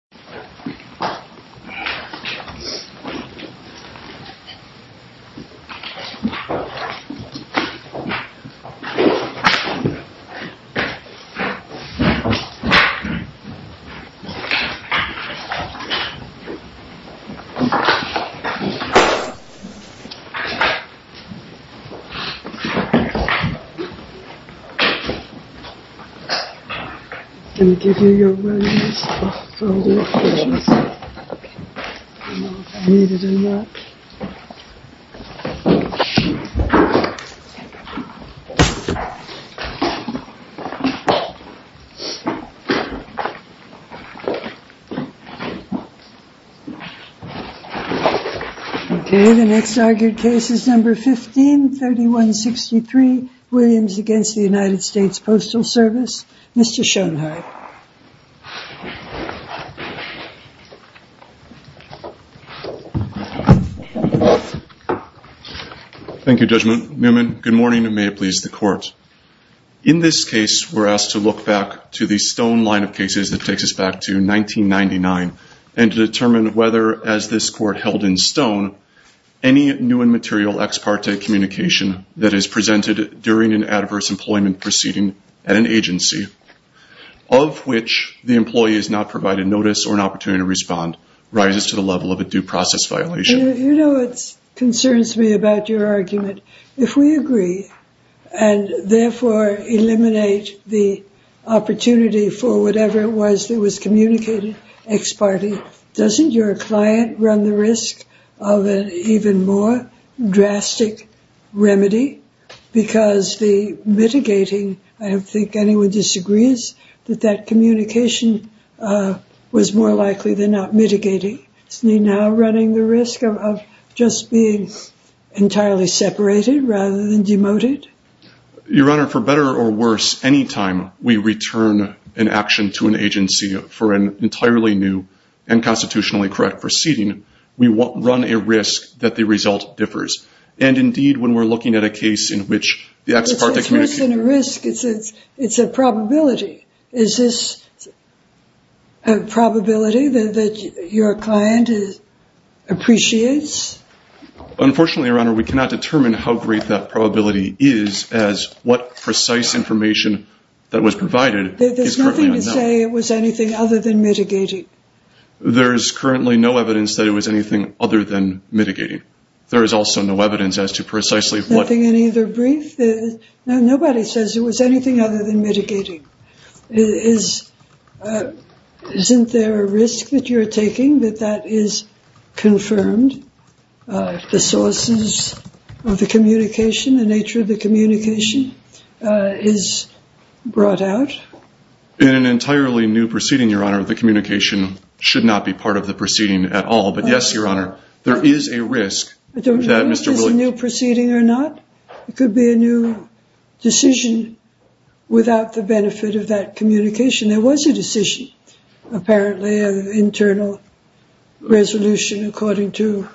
crawling fast clunk clunk crunch crunch folded needed a nap clunk clunk clunk clunk clunk clunk clunk clunk clunk clunk clunk clunk Okay, the next argued case is number 15, 3163, Williams against the United States Postal Service, Mr. Schoenhardt. Thank you, Judge Newman. Good morning and may it please the court. In this case, we're asked to look back to the stone line of cases that takes us back to 1999 and to determine whether, as this court held in stone, any new and material ex parte communication that is presented during an adverse employment proceeding at an agency of which the employee is not provided notice or an opportunity to respond rises to the level of a due process violation. You know what concerns me about your argument? If we agree and therefore eliminate the opportunity for whatever it was that was communicated ex parte, doesn't your client run the risk of an even more drastic remedy because the mitigating, I don't think anyone disagrees, that that communication was more likely than not mitigating. Isn't he now running the risk of just being entirely separated rather than demoted? Your Honor, for better or worse, any time we return an action to an agency for an entirely new and constitutionally correct proceeding, we run a risk that the result differs. And indeed, when we're looking at a case in which the ex parte communication... It's less than a risk. It's a probability. Is this a probability that your client appreciates? Unfortunately, Your Honor, we cannot determine how great that probability is as what precise information that was provided is currently unknown. There's nothing to say it was anything other than mitigating? There is currently no evidence that it was anything other than mitigating. There is also no evidence as to precisely what... Nothing in either brief? Nobody says it was anything other than mitigating. Isn't there a risk that you're taking that that is confirmed? The sources of the communication, the nature of the communication is brought out? In an entirely new proceeding, Your Honor, the communication should not be part of the proceeding at all. But yes, Your Honor, there is a risk... I don't know if it's a new proceeding or not. It could be a new decision without the benefit of that communication. There was a decision, apparently, an internal resolution according to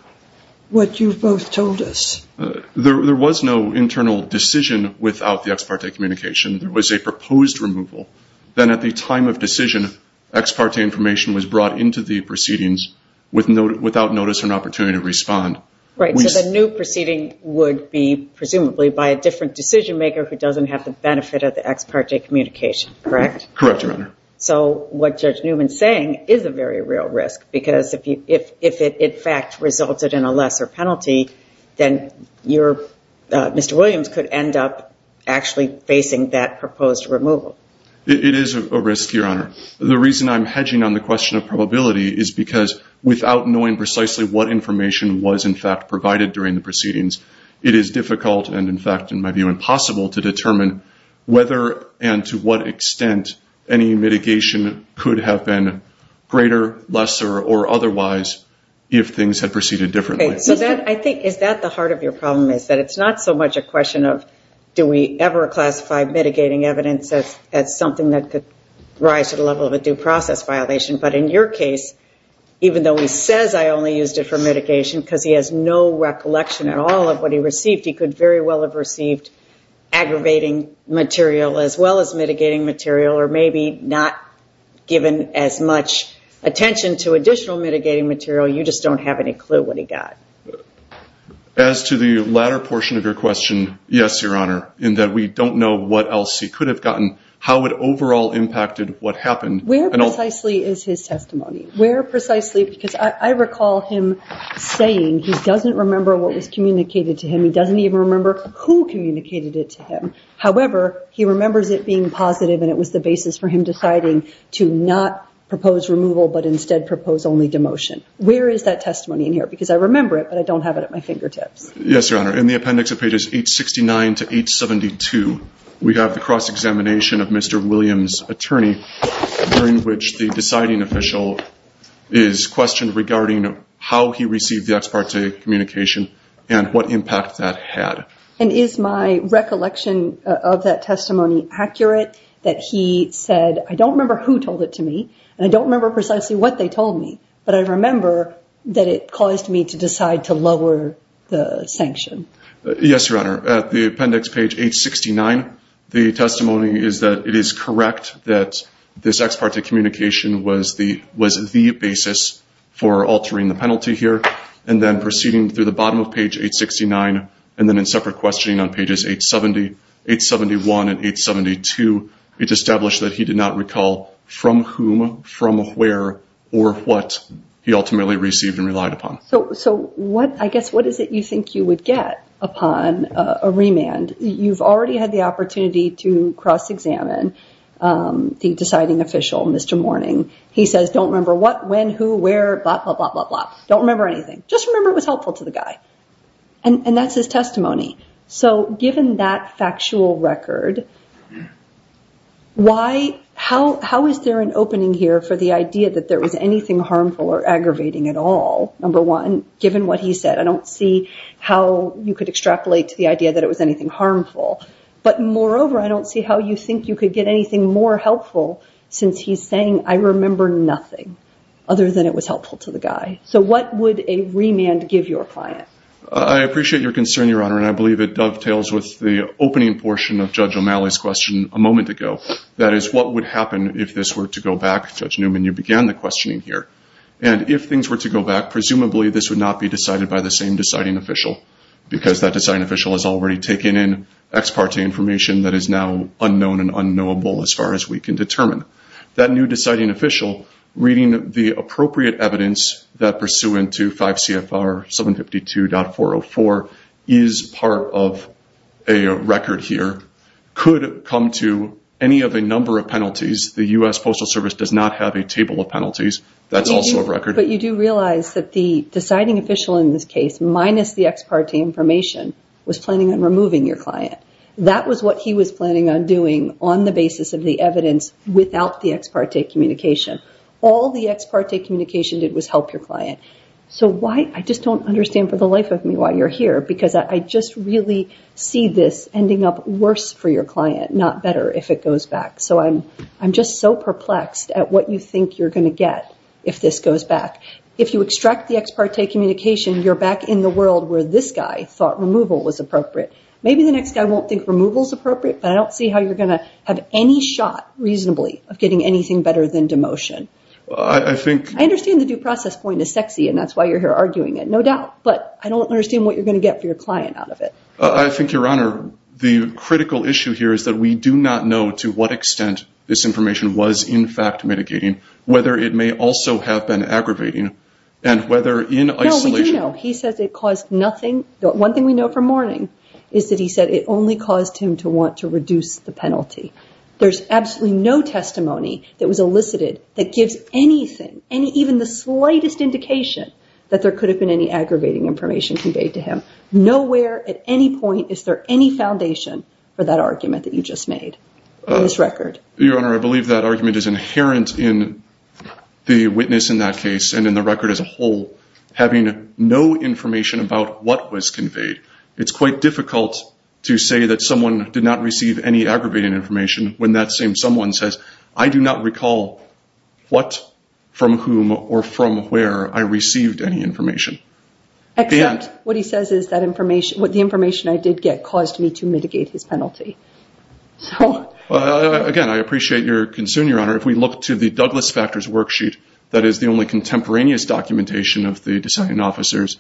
what you've both told us. There was no internal decision without the ex parte communication. There was a proposed removal. Then at the time of decision, ex parte information was brought into the proceedings without notice or an opportunity to respond. Right, so the new proceeding would be presumably by a different decision maker who doesn't have the benefit of the ex parte communication, correct? Correct, Your Honor. So what Judge Newman's saying is a very real risk because if it in fact resulted in a lesser penalty, then Mr. Williams could end up actually facing that proposed removal. It is a risk, Your Honor. The reason I'm hedging on the question of probability is because without knowing precisely what information was in fact provided during the proceedings, it is difficult and in fact, in my view, impossible to determine whether and to what extent any mitigation could have been greater, lesser, or otherwise if things had proceeded differently. Okay, so I think is that the heart of your problem is that it's not so much a question of do we ever classify mitigating evidence as something that could rise to the level of a due process violation, but in your case, even though he says I only used it for mitigation because he has no recollection at all of what he received, he could very well have received aggravating material as well as mitigating material or maybe not given as much attention to additional mitigating material. You just don't have any clue what he got. As to the latter portion of your question, yes, Your Honor, in that we don't know what else he could have gotten, how it overall impacted what happened. Where precisely is his testimony? Where precisely, because I recall him saying he doesn't remember what was communicated to him. He doesn't even remember who communicated it to him. However, he remembers it being positive and it was the basis for him deciding to not propose removal, but instead propose only demotion. Where is that testimony in here? Because I remember it, but I don't have it at my fingertips. Yes, Your Honor, in the appendix of pages 869 to 872, we have the cross-examination of Mr. Williams' attorney during which the deciding official is questioned regarding how he received the ex parte communication and what impact that had. And is my recollection of that testimony accurate that he said, I don't remember who told it to me and I don't remember precisely what they told me, but I remember that it caused me to decide to lower the sanction? Yes, Your Honor. At the appendix, page 869, the testimony is that it is correct that this ex parte communication was the basis for altering the penalty here and then proceeding through the bottom of page 869 and then in separate questioning on pages 871 and 872, it's established that he did not recall from whom, from where, or what he ultimately received and relied upon. So what, I guess, what is it you think you would get upon a remand? You've already had the opportunity to cross-examine the deciding official, Mr. Mourning. He says, don't remember what, when, who, where, blah, blah, blah, blah, blah, don't remember anything. Just remember it was helpful to the guy. And that's his testimony. So given that factual record, why, how is there an opening here for the idea that there was anything harmful or aggravating at all, number one, given what he said? I don't see how you could extrapolate to the idea that it was anything harmful. But moreover, I don't see how you think you could get anything more helpful since he's saying, I remember nothing other than it was helpful to the guy. So what would a remand give your client? I appreciate your concern, Your Honor, and I believe it dovetails with the opening portion of Judge O'Malley's question a moment ago. That is, what would happen if this were to go back? Judge Newman, you began the questioning here. And if things were to go back, presumably this would not be decided by the same deciding official, because that deciding official has already taken in ex parte information that is now unknown and unknowable as far as we can determine. That new deciding official, reading the appropriate evidence that pursuant to 5 CFR 752.404 is part of a record here, could come to any of a number of penalties. The U.S. Postal Service does not have a table of penalties. That's also a record. But you do realize that the deciding official in this case, minus the ex parte information, was planning on removing your client. That was what he was planning on doing on the basis of the evidence without the ex parte communication. All the ex parte communication did was help your client. So I just don't understand for the life of me why you're here, because I just really see this ending up worse for your client, not better, if it goes back. So I'm just so perplexed at what you think you're going to get if this goes back. If you extract the ex parte communication, you're back in the world where this guy thought removal was appropriate. Maybe the next guy won't think removal's appropriate, but I don't see how you're going to have any shot, reasonably, of getting anything better than demotion. I understand the due process point is sexy, and that's why you're here arguing it, no doubt. But I don't understand what you're going to get for your client out of it. I think, Your Honor, the critical issue here is that we do not know to what extent this information was, in fact, mitigating, whether it may also have been aggravating, and whether in isolation... No, we do know. He says it caused nothing. One thing we know from Mourning is that he said it only caused him to want to reduce the penalty. There's absolutely no testimony that was elicited that gives anything, even the slightest indication that there could have been any aggravating information conveyed to him. Nowhere, at any point, is there any foundation for that argument that you just made on this record. Your Honor, I believe that argument is inherent in the witness in that case and in the record as a whole, having no information about what was conveyed. It's quite difficult to say that someone did not receive any aggravating information when that same someone says, I do not recall what, from whom, or from where I received any information. Except, what he says is that the information I did get caused me to mitigate his penalty. Again, I appreciate your concern, Your Honor. If we look to the Douglas Factors worksheet, that is the only contemporaneous documentation of the design officers.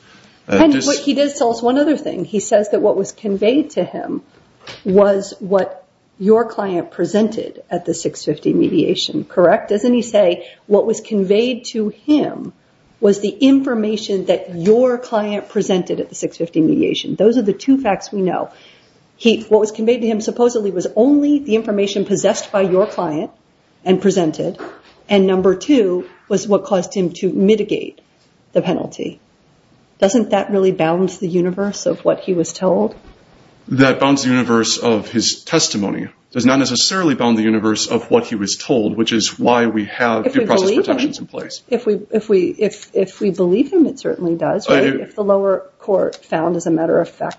He does tell us one other thing. He says that what was conveyed to him was what your client presented at the 650 mediation. Correct? Doesn't he say, what was conveyed to him was the information that your client presented at the 650 mediation. Those are the two facts we know. What was conveyed to him supposedly was only the information possessed by your client and presented, and number two was what caused him to mitigate the penalty. Doesn't that really bound the universe of what he was told? That bounds the universe of his testimony. It does not necessarily bound the universe of what he was told, which is why we have due process protections in place. If we believe him, it certainly does. If the lower court found as a matter of fact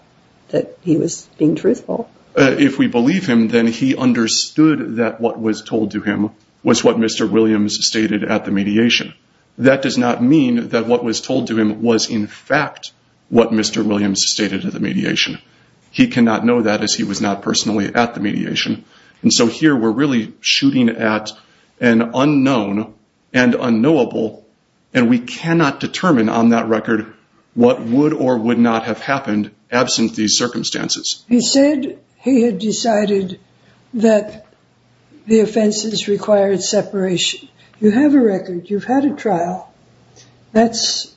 that he was being truthful. If we believe him, then he understood that what was told to him was what Mr. Williams stated at the mediation. That does not mean that what was told to him was in fact what Mr. Williams stated at the mediation. He cannot know that as he was not personally at the mediation. So here we're really shooting at an unknown and unknowable, and we cannot know what would or would not have happened absent these circumstances. He said he had decided that the offenses required separation. You have a record. You've had a trial. That's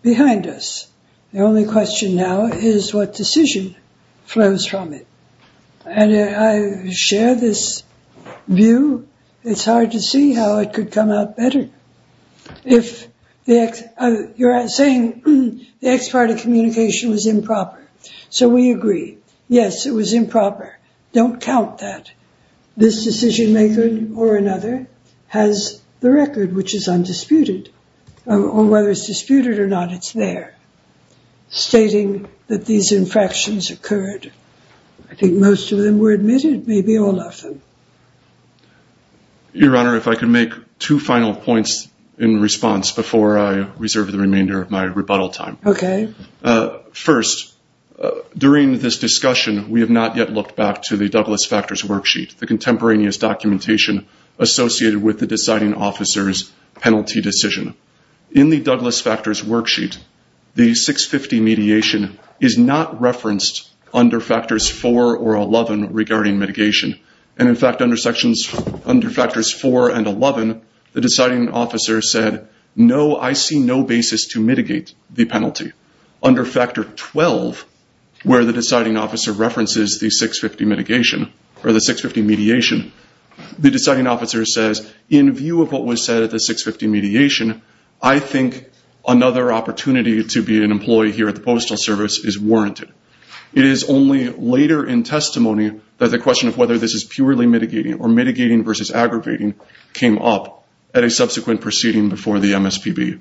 behind us. The only question now is what decision flows from it. And I share this view. It's hard to see how it could come out better. You're saying the ex parte communication was improper. So we agree. Yes, it was improper. Don't count that. This decision maker or another has the record, which is undisputed. Whether it's disputed or not, it's there, stating that these infractions occurred. I think most of them were admitted, maybe all of them. Your Honor, if I could make two final points in response before I reserve the remainder of my rebuttal time. First, during this discussion, we have not yet looked back to the Douglas Factors Worksheet, the contemporaneous documentation associated with the deciding officer's penalty decision. In the Douglas Factors Worksheet, the 650 mediation is not referenced under Factors 4 or 11 regarding mitigation. In fact, under Factors 4 and 11, the deciding officer said, no, I see no basis to mitigate the penalty. Under Factor 12, where the deciding officer references the 650 mitigation or the 650 mediation, the deciding officer says, in view of what was said at the 650 mediation, I think another opportunity to be an employee here at the Postal Service is warranted. It is only later in testimony that the question of whether this is purely mitigating or mitigating versus aggravating came up at a subsequent proceeding before the MSPB.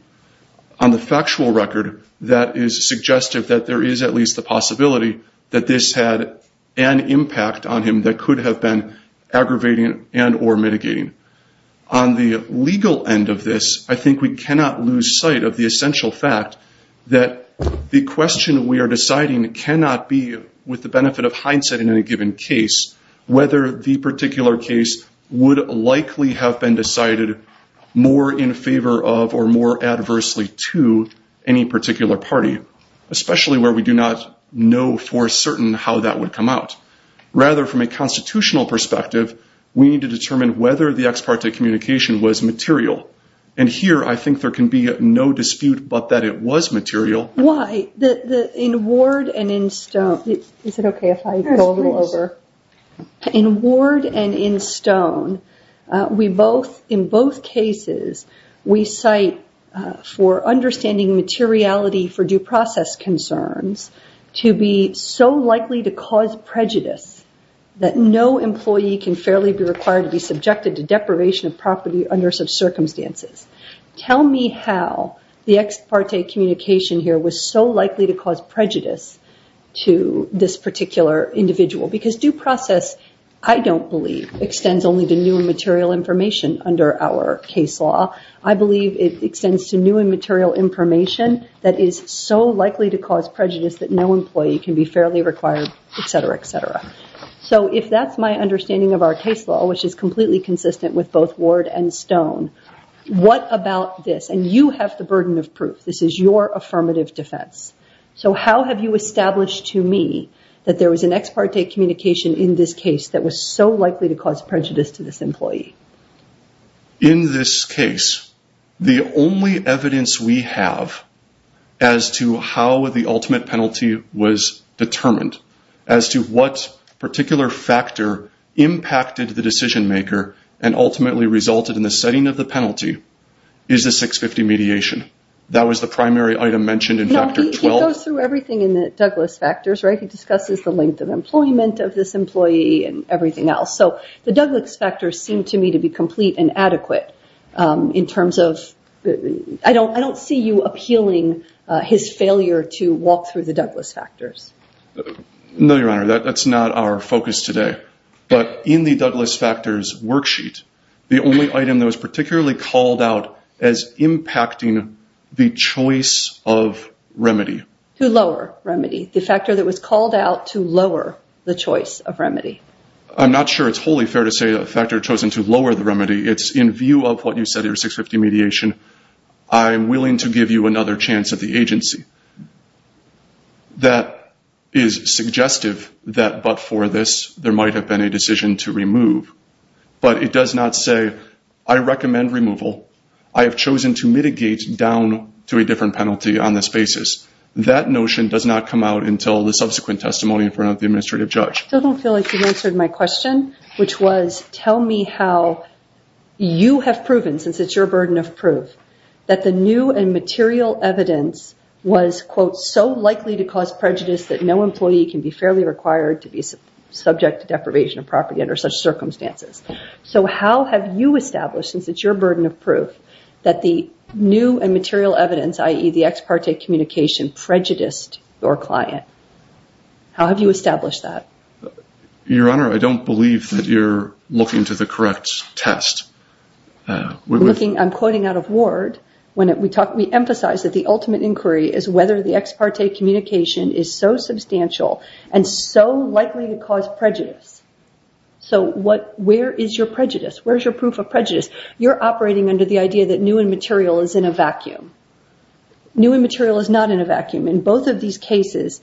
On the factual record, that is suggestive that there is at least the possibility that this had an impact on him that could have been aggravating and or mitigating. On the legal end of this, I think we cannot lose sight of the essential fact that the question we are deciding cannot be, with the benefit of hindsight in any given case, whether the particular case would likely have been decided more in favor of or more adversely to any particular party, especially where we do not know for certain how that would come out. Rather, from a constitutional perspective, we need to determine whether the ex parte communication was material. And here, I think there can be no dispute but that it was material. Why? In Ward and in Stone, is it okay if I go a little over? In Ward and in Stone, we both, in both cases, we cite for understanding materiality for due process concerns to be so likely to cause prejudice that no employee can fairly be required to be subjected to deprivation of property under such circumstances. Tell me how the ex parte communication here was so likely to cause prejudice to this particular individual because due process I don't believe extends only to new and material information under our case law. I believe it extends to new and material information that is so likely to cause prejudice that no employee can be fairly required, etc., etc. So if that's my understanding of our case law, which is completely consistent with both Ward and Stone, what about this? And you have the burden of proof. This is your affirmative defense. So how have you established to me that there was an ex parte communication in this case that was so likely to cause prejudice to this employee? In this case, the only evidence we have as to how the ultimate penalty was determined, as to what particular factor impacted the decision maker and ultimately resulted in the setting of the penalty, is the 650 mediation. That was the primary item mentioned in factor 12. He goes through everything in the Douglass factors, right? He discusses the length of employment of this employee and everything else. So the Douglass factors seem to me to be complete and adequate in terms of, I don't see you appealing his failure to walk through the Douglass factors. No, Your Honor. That's not our focus today. But in the Douglass factors worksheet, the only item that was particularly called out as impacting the choice of remedy. To lower remedy. The factor that was called out to lower the choice of remedy. I'm not sure it's wholly fair to say a factor chosen to lower the remedy. It's in view of what you said in your 650 mediation. I'm willing to give you another chance at the agency. That is suggestive that but for this, there might have been a decision to remove. But it does not say, I recommend removal. I have chosen to mitigate down to a different penalty on this basis. That notion does not come out until the subsequent testimony in front of the administrative judge. I don't feel like you answered my question. Which was, tell me how you have proven, since it's your burden of proof, that the new and material evidence was quote, so likely to cause prejudice that no employee can be fairly required to be subject to deprivation of property under such circumstances. How have you established, since it's your burden of proof, that the new and material evidence, i.e. the ex parte communication, prejudiced your client? How have you established that? Your Honor, I don't believe that you're looking to the correct test. I'm quoting out of Ward. We emphasize that the ultimate inquiry is whether the ex parte communication is so substantial and so likely to cause prejudice. Where is your prejudice? Where is your proof of prejudice? You're operating under the idea that new and material is in a vacuum. New and material is not in a vacuum. In both of these cases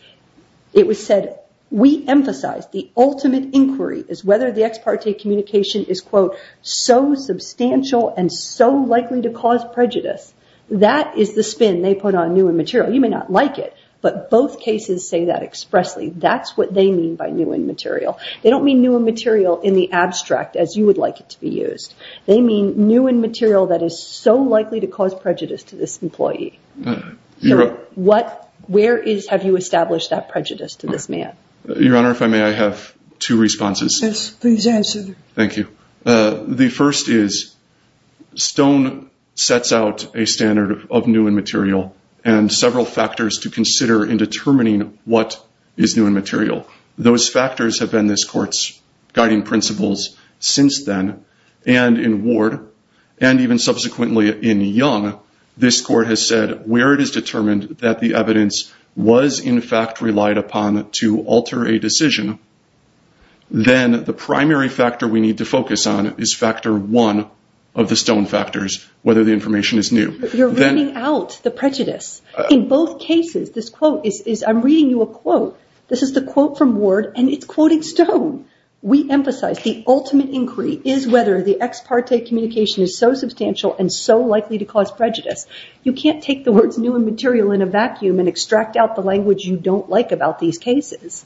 it was said, we emphasize the ultimate inquiry is whether the ex parte communication is quote, so substantial and so likely to cause prejudice. That is the spin they put on new and material. You may not like it, but both cases say that expressly. That's what they mean by new and material. They don't mean new and material in the abstract as you would like it to be used. They mean new and material that is so likely to cause prejudice to this employee. Where is, have you established that prejudice to this man? Your Honor, if I may, I have two responses. Yes, please answer. Thank you. The first is Stone sets out a standard of new and material and several factors to consider in determining what is new and material. Those factors have been this court's guiding principles since then and in Ward and even subsequently in Young, this court has said where it is determined that the evidence was in fact relied upon to alter a decision then the primary factor we need to focus on is factor one of the Stone factors, whether the information is new. You're running out the prejudice. In both cases, this quote is, I'm reading you a quote. This is the quote from Ward and it's quoted Stone. We emphasize the ultimate inquiry is whether the ex parte communication is so substantial and so likely to cause prejudice. You can't take the words new and material in a vacuum and extract out the language you don't like about these cases.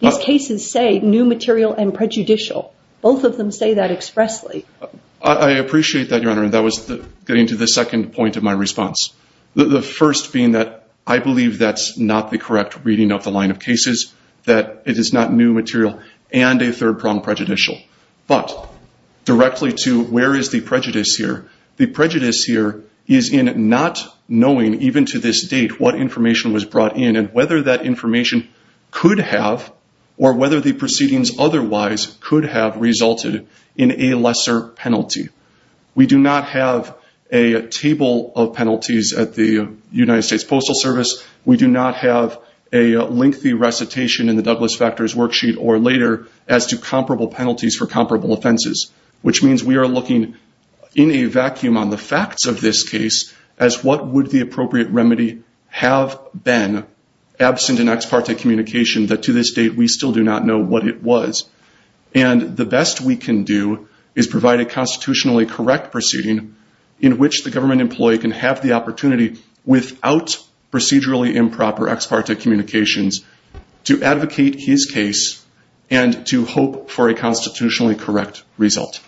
These cases say new material and prejudicial. Both of them say that expressly. I appreciate that, Your Honor. That was getting to the second point of my response. The first being that I believe that's not the correct reading of the line of cases, that it is not new material and a third prong prejudicial. But, directly to where is the prejudice here? The prejudice here is in not knowing even to this date what information was brought in and whether that information could have or whether the proceedings otherwise could have resulted in a lesser penalty. We do not have a table of penalties at the United States Postal Service. We do not have a lengthy recitation in the Douglas Factors worksheet or later as to comparable penalties for comparable offenses. Which means we are looking in a vacuum on the facts of this case as what would the appropriate remedy have been absent an ex parte communication that to this date we still do not know what it was. The best we can do is provide a constitutionally correct proceeding in which the government employee can have the opportunity without procedurally improper ex parte communications to advocate his case and to hope for a constitutionally correct result.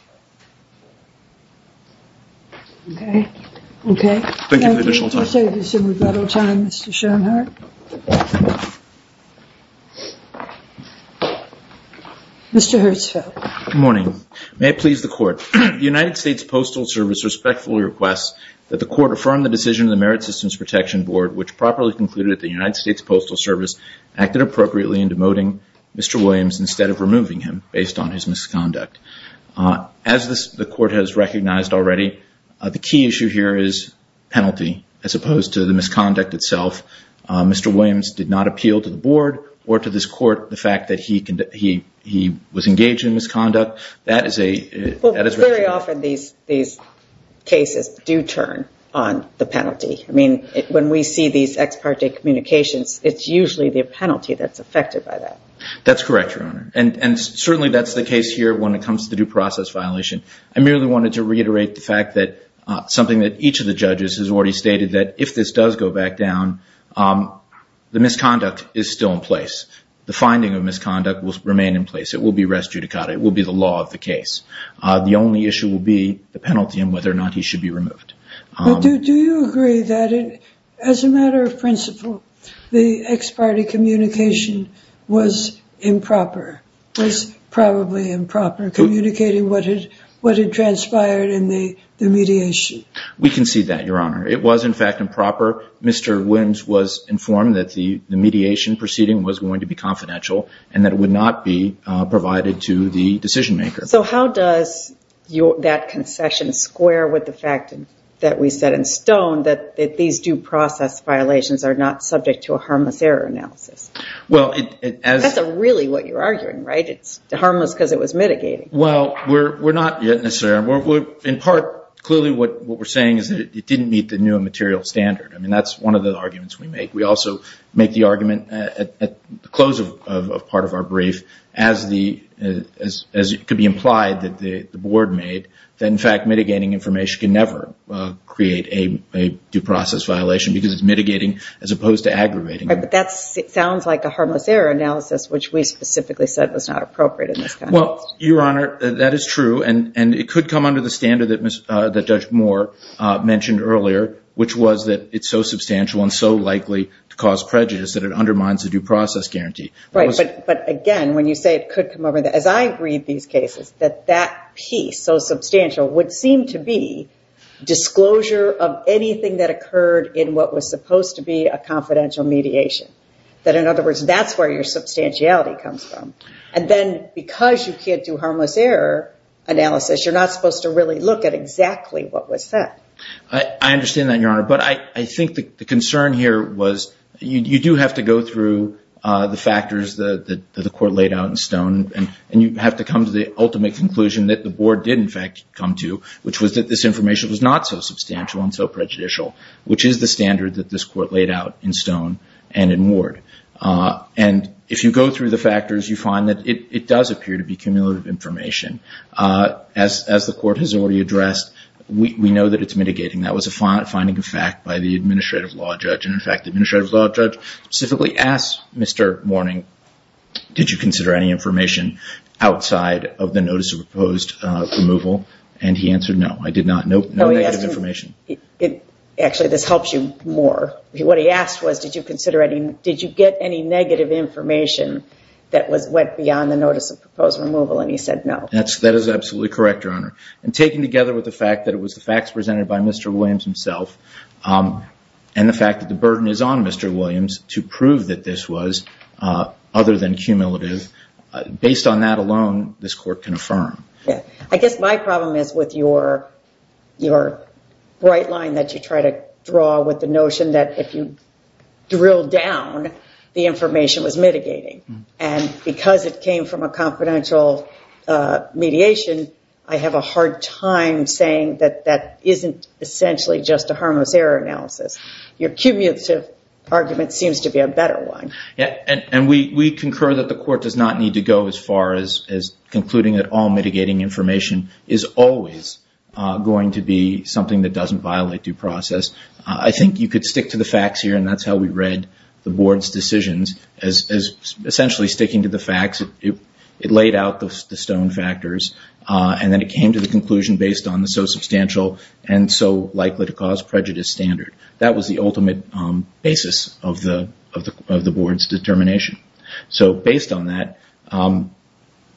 Okay. Okay. Mr. Herzfeld. Good morning. May it please the court. The United States Postal Service respectfully requests that the court affirm the decision of the Merit Systems Protection Board which properly concluded that the United States Postal Service acted appropriately in demoting Mr. Williams instead of removing him based on his misconduct. As the court has recognized already the key issue here is penalty as opposed to the misconduct itself. Mr. Williams did not appeal to the board or to this court the fact that he was engaged in misconduct. That is a... Very often these cases do turn on the penalty. I mean when we see these ex parte communications it's usually the penalty that's affected by that. That's correct your honor and certainly that's the case here when it comes to the due process violation. I merely wanted to reiterate the fact that something that each of the judges has already stated that if this does go back down the misconduct is still in place. The finding of misconduct will remain in place. It will be res judicata. It will be the law of the case. The only issue will be the penalty and whether or not he should be removed. Do you agree that as a matter of principle the ex parte communication was improper? Was probably improper communicating what had transpired in the mediation? We concede that your honor. It was in fact improper. Mr. Williams was informed that the mediation proceeding was going to be confidential and that it would not be provided to the decision maker. So how does that concession square with the fact that we set in stone that these due process violations are not subject to a harmless error analysis? That's really what you're arguing, right? It's harmless because it was mitigating. Well, we're not necessarily. In part clearly what we're saying is that it didn't meet the new material standard. That's one of the arguments we make. We also make the argument at the close of part of our brief as it could be implied that the board made that in fact mitigating information can never create a due process violation because it's mitigating as opposed to aggravating. But that sounds like a harmless error analysis which we specifically said was not appropriate in this context. Your honor, that is true and it could come under the standard that Judge Moore mentioned earlier which was that it's so substantial and so likely to cause prejudice that it undermines the due process guarantee. But again, when you say it could come over, as I read these cases that piece so substantial would seem to be in what was supposed to be a confidential mediation. That in other words that's where your substantiality comes from. And then because you can't do harmless error analysis you're not supposed to really look at exactly what was said. I understand that your honor, but I think the concern here was you do have to go through the factors that the court laid out in stone and you have to come to the ultimate conclusion that the board did in fact come to which was that this information was not so as the standard that this court laid out in stone and in ward. And if you go through the factors you find that it does appear to be cumulative information. As the court has already addressed we know that it's mitigating. That was a finding of fact by the Administrative Law Judge and in fact the Administrative Law Judge specifically asked Mr. Mourning did you consider any information outside of the notice of proposed removal and he answered no, I did not. No negative information. Actually this helps you more. What he asked was did you get any negative information that went beyond the notice of proposed removal and he said no. That is absolutely correct your honor. And taken together with the fact that it was presented by Mr. Williams himself and the fact that the burden is on Mr. Williams to prove that this was other than cumulative, based on that alone this court can affirm. I guess my problem is with your bright line that you try to draw with the notion that if you drill down the information was mitigating and because it came from a confidential mediation I have a hard time saying that that isn't essentially just a harmless error analysis. Your cumulative argument seems to be a better one. We concur that the court does not need to go as far as concluding that all mitigating information is always going to be something that doesn't violate due process. I think you could stick to the facts here and that's how we read the board's decisions as essentially sticking to the facts. It laid out the stone factors and then it came to the conclusion based on the so substantial and so likely to cause prejudice standard. That was the ultimate basis of the board's determination. So based on that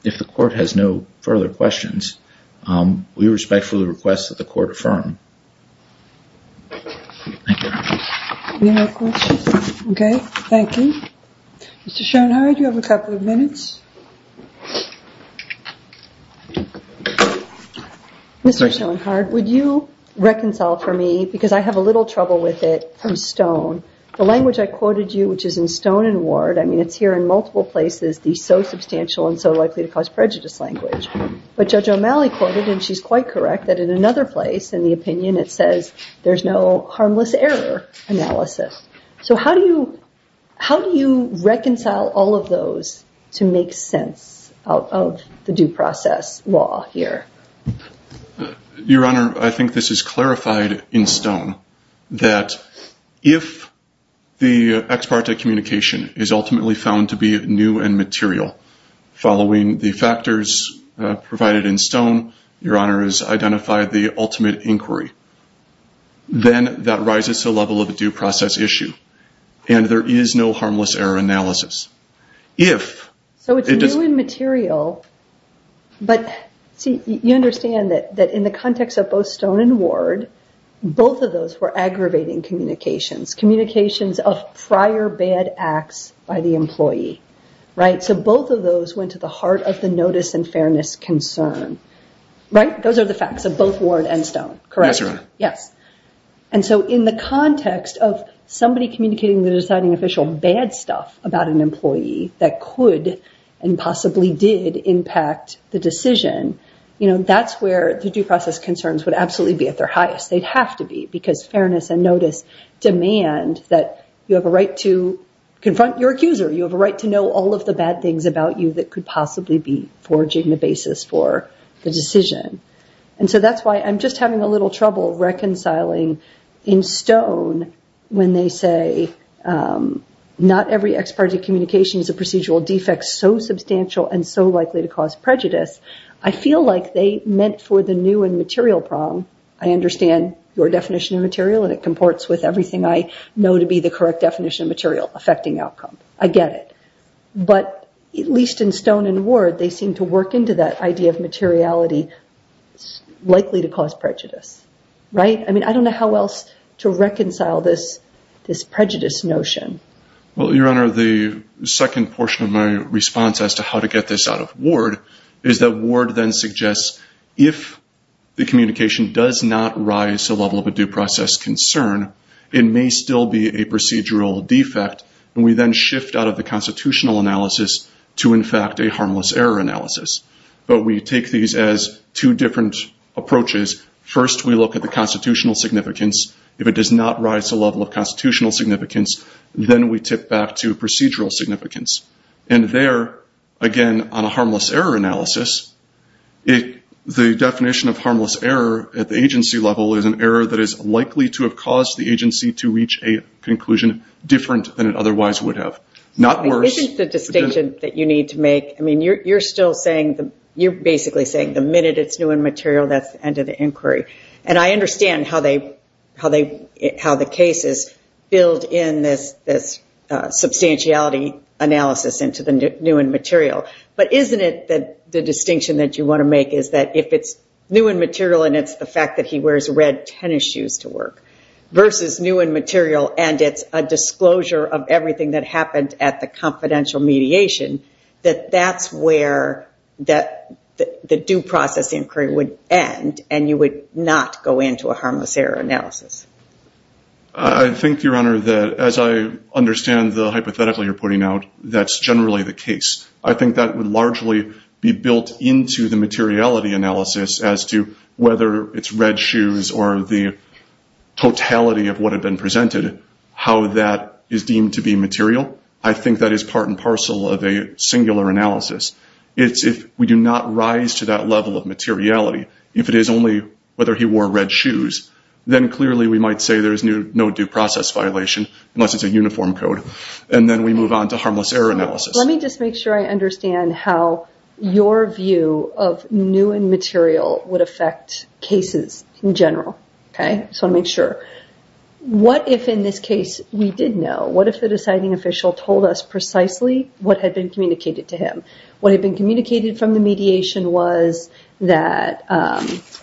if the court has no further questions, we respectfully request that the court affirm. Thank you. Mr. Schoenhardt you have a couple of minutes. Mr. Schoenhardt, would you reconcile for me because I have a little trouble with it from Stone. The language I quoted you which is in Stone and Ward, I mean it's here in multiple places, the so substantial and so likely to cause prejudice language. But Judge O'Malley quoted and she's quite correct that in another place in the opinion it says there's no harmless error analysis. So how do you reconcile all of those to make sense out of the due process law here? Your Honor I think this is clarified in Stone that if the ex parte communication is ultimately found to be new and material following the factors provided in Stone, your Honor has identified the ultimate inquiry then that rises to the level of a due process issue and there is no harmless error analysis. If So it's new and material but see you understand that in the context of both Stone and Ward both of those were aggravating communications communications of prior bad acts by the employee right? So both of those went to the heart of the notice and fairness concern. Right? Those are the facts of both Ward and Stone. Correct? Yes. And so in the context of somebody communicating the deciding official bad stuff about an employee that could and possibly did impact the decision, you know that's where the due process concerns would absolutely be at their highest. They'd have to be because fairness and notice demand that you have a right to confront your accuser. You have a right to know all of the bad things about you that could possibly be forging the basis for the decision. And so that's why I'm just having a little trouble reconciling in Stone when they say not every ex parte communication is a procedural defect so substantial and so likely to cause prejudice. I feel like they meant for the new and material problem I understand your definition of everything I know to be the correct definition of material affecting outcome. I get it. But at least in Stone and Ward they seem to work into that idea of materiality likely to cause prejudice. Right? I mean I don't know how else to reconcile this prejudice notion. Your Honor, the second portion of my response as to how to get this out of Ward is that Ward then suggests if the communication does not rise to the level of a due process concern it may still be a procedural defect and we then shift out of the constitutional analysis to in fact a harmless error analysis. But we take these as two different approaches. First we look at the constitutional significance if it does not rise to the level of constitutional significance then we tip back to procedural significance. And there again on a harmless error analysis the definition of harmless error at the agency level is an error that is likely to have caused the agency to reach a conclusion different than it otherwise would have. Isn't the distinction that you need to make, I mean you're still saying you're basically saying the minute it's new in material that's the end of the inquiry. And I understand how they how the cases build in this substantiality analysis into the new in material. But isn't it the distinction that you want to the fact that he wears red tennis shoes to work versus new in material and it's a disclosure of everything that happened at the confidential mediation that's where the due process inquiry would end and you would not go into a harmless error analysis. I think Your Honor that as I understand the hypothetically you're putting out that's generally the case. I think that would largely be built into the materiality analysis as to whether it's red shoes or the totality of what had been presented how that is deemed to be material. I think that is part and parcel of a singular analysis. It's if we do not rise to that level of materiality if it is only whether he wore red shoes then clearly we might say there's no due process violation unless it's a uniform code and then we move on to harmless error analysis. Let me just make sure I understand how your view of new in material would affect cases in general. What if in this case we did know what if the deciding official told us precisely what had been communicated to him what had been communicated from the mediation was that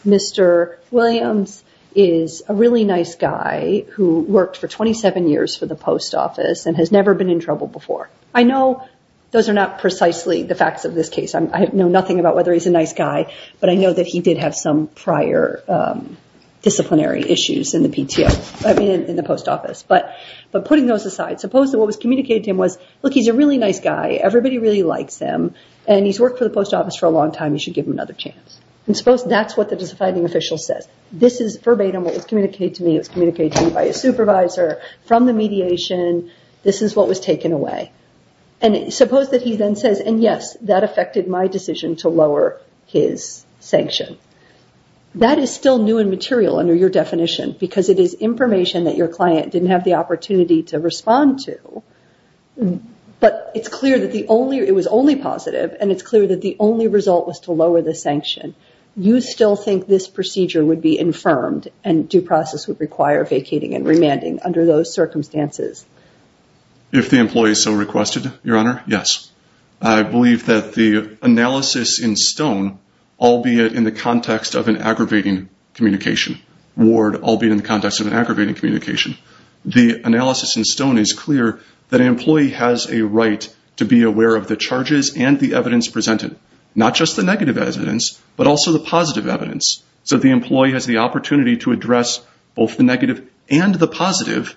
Mr. Williams is a really nice guy who worked for 27 years for the post office and has never been in trouble before. I know those are not precisely the facts of this case. I know nothing about whether he's a nice guy but I know that he did have some prior disciplinary issues in the PTO in the post office but putting those aside suppose what was communicated to him was look he's a really nice guy everybody really likes him and he's worked for the post office for a long time you should give him another chance and suppose that's what the deciding official says this is verbatim what was communicated to me it was communicated to me by a supervisor from the mediation this is what was taken away and suppose that he then says and yes that affected my decision to lower his sanction that is still new and material under your definition because it is information that your client didn't have the opportunity to respond to but it's clear that the only it was only positive and it's clear that the only result was to lower the sanction you still think this procedure would be infirmed and due process would require vacating and remanding under those circumstances if the employee so requested your honor yes I believe that the analysis in stone albeit in the context of an aggravating communication ward albeit in the context of an aggravating communication the analysis in stone is clear that an employee has a right to be aware of the charges and the evidence presented not just the negative evidence but also the positive evidence so the employee has the opportunity to address both the negative and the positive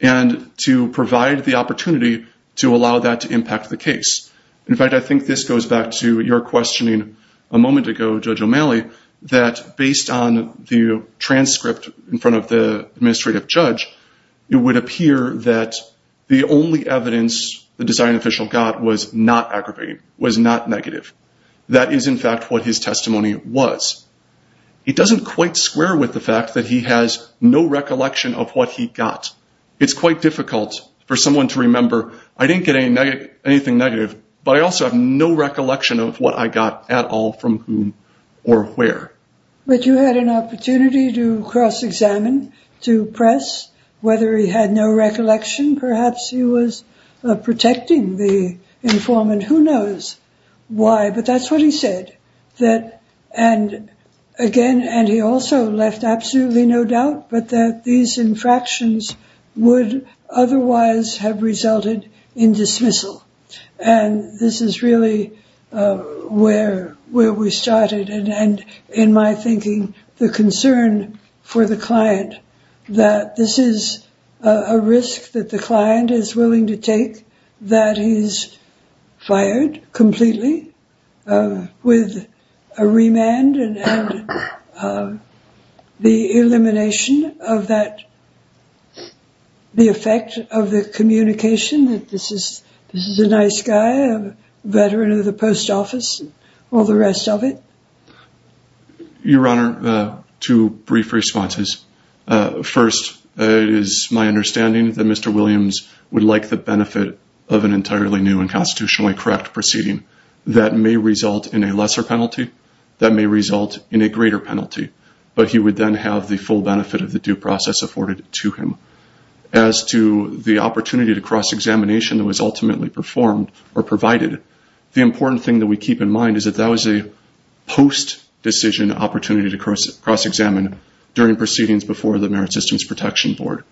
and to provide the opportunity to allow that to impact the case in fact I think this goes back to your questioning a moment ago Judge O'Malley that based on the transcript in front of the administrative judge it would appear that the only evidence the design official got was not aggravating was not negative that is in fact what his testimony was it doesn't quite square with the fact that he has no recollection of what he got it's quite difficult for someone to remember I didn't get anything negative but I also have no recollection of what I got at all from whom or where but you had an opportunity to cross examine to press whether he had no recollection perhaps he was protecting the informant who knows why but that's what he said that and again and he also left absolutely no doubt but that these infractions would otherwise have resulted in dismissal and this is really where we started and in my thinking the concern for the client that this is a risk that the client is willing to take that he's fired completely with a remand and the elimination of that the effect of the communication that this is a nice guy veteran of the post office all the rest of it your honor two brief responses first it is my understanding that Mr. Williams would like the benefit of an entirely new and constitutionally correct proceeding that may result in a lesser penalty that may result in a greater penalty but he would then have the full benefit of the due process afforded to him as to the opportunity to cross examination that was ultimately performed or provided the important thing that we keep in mind is that that was a post decision opportunity to cross examine during proceedings before the merit systems protection board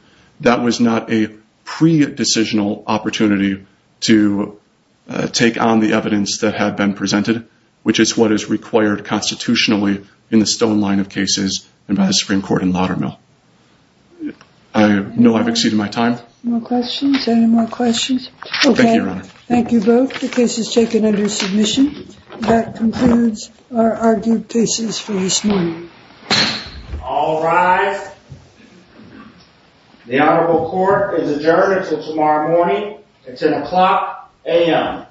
that was not a pre decisional opportunity to take on the evidence that had been presented which is what is required constitutionally in the stone line of cases and by the Supreme Court in Laudermill I know I've exceeded my time any more questions thank you both the case is taken under submission that concludes our argued cases for this morning all rise the honorable court is adjourned until tomorrow morning at 10 o'clock a.m.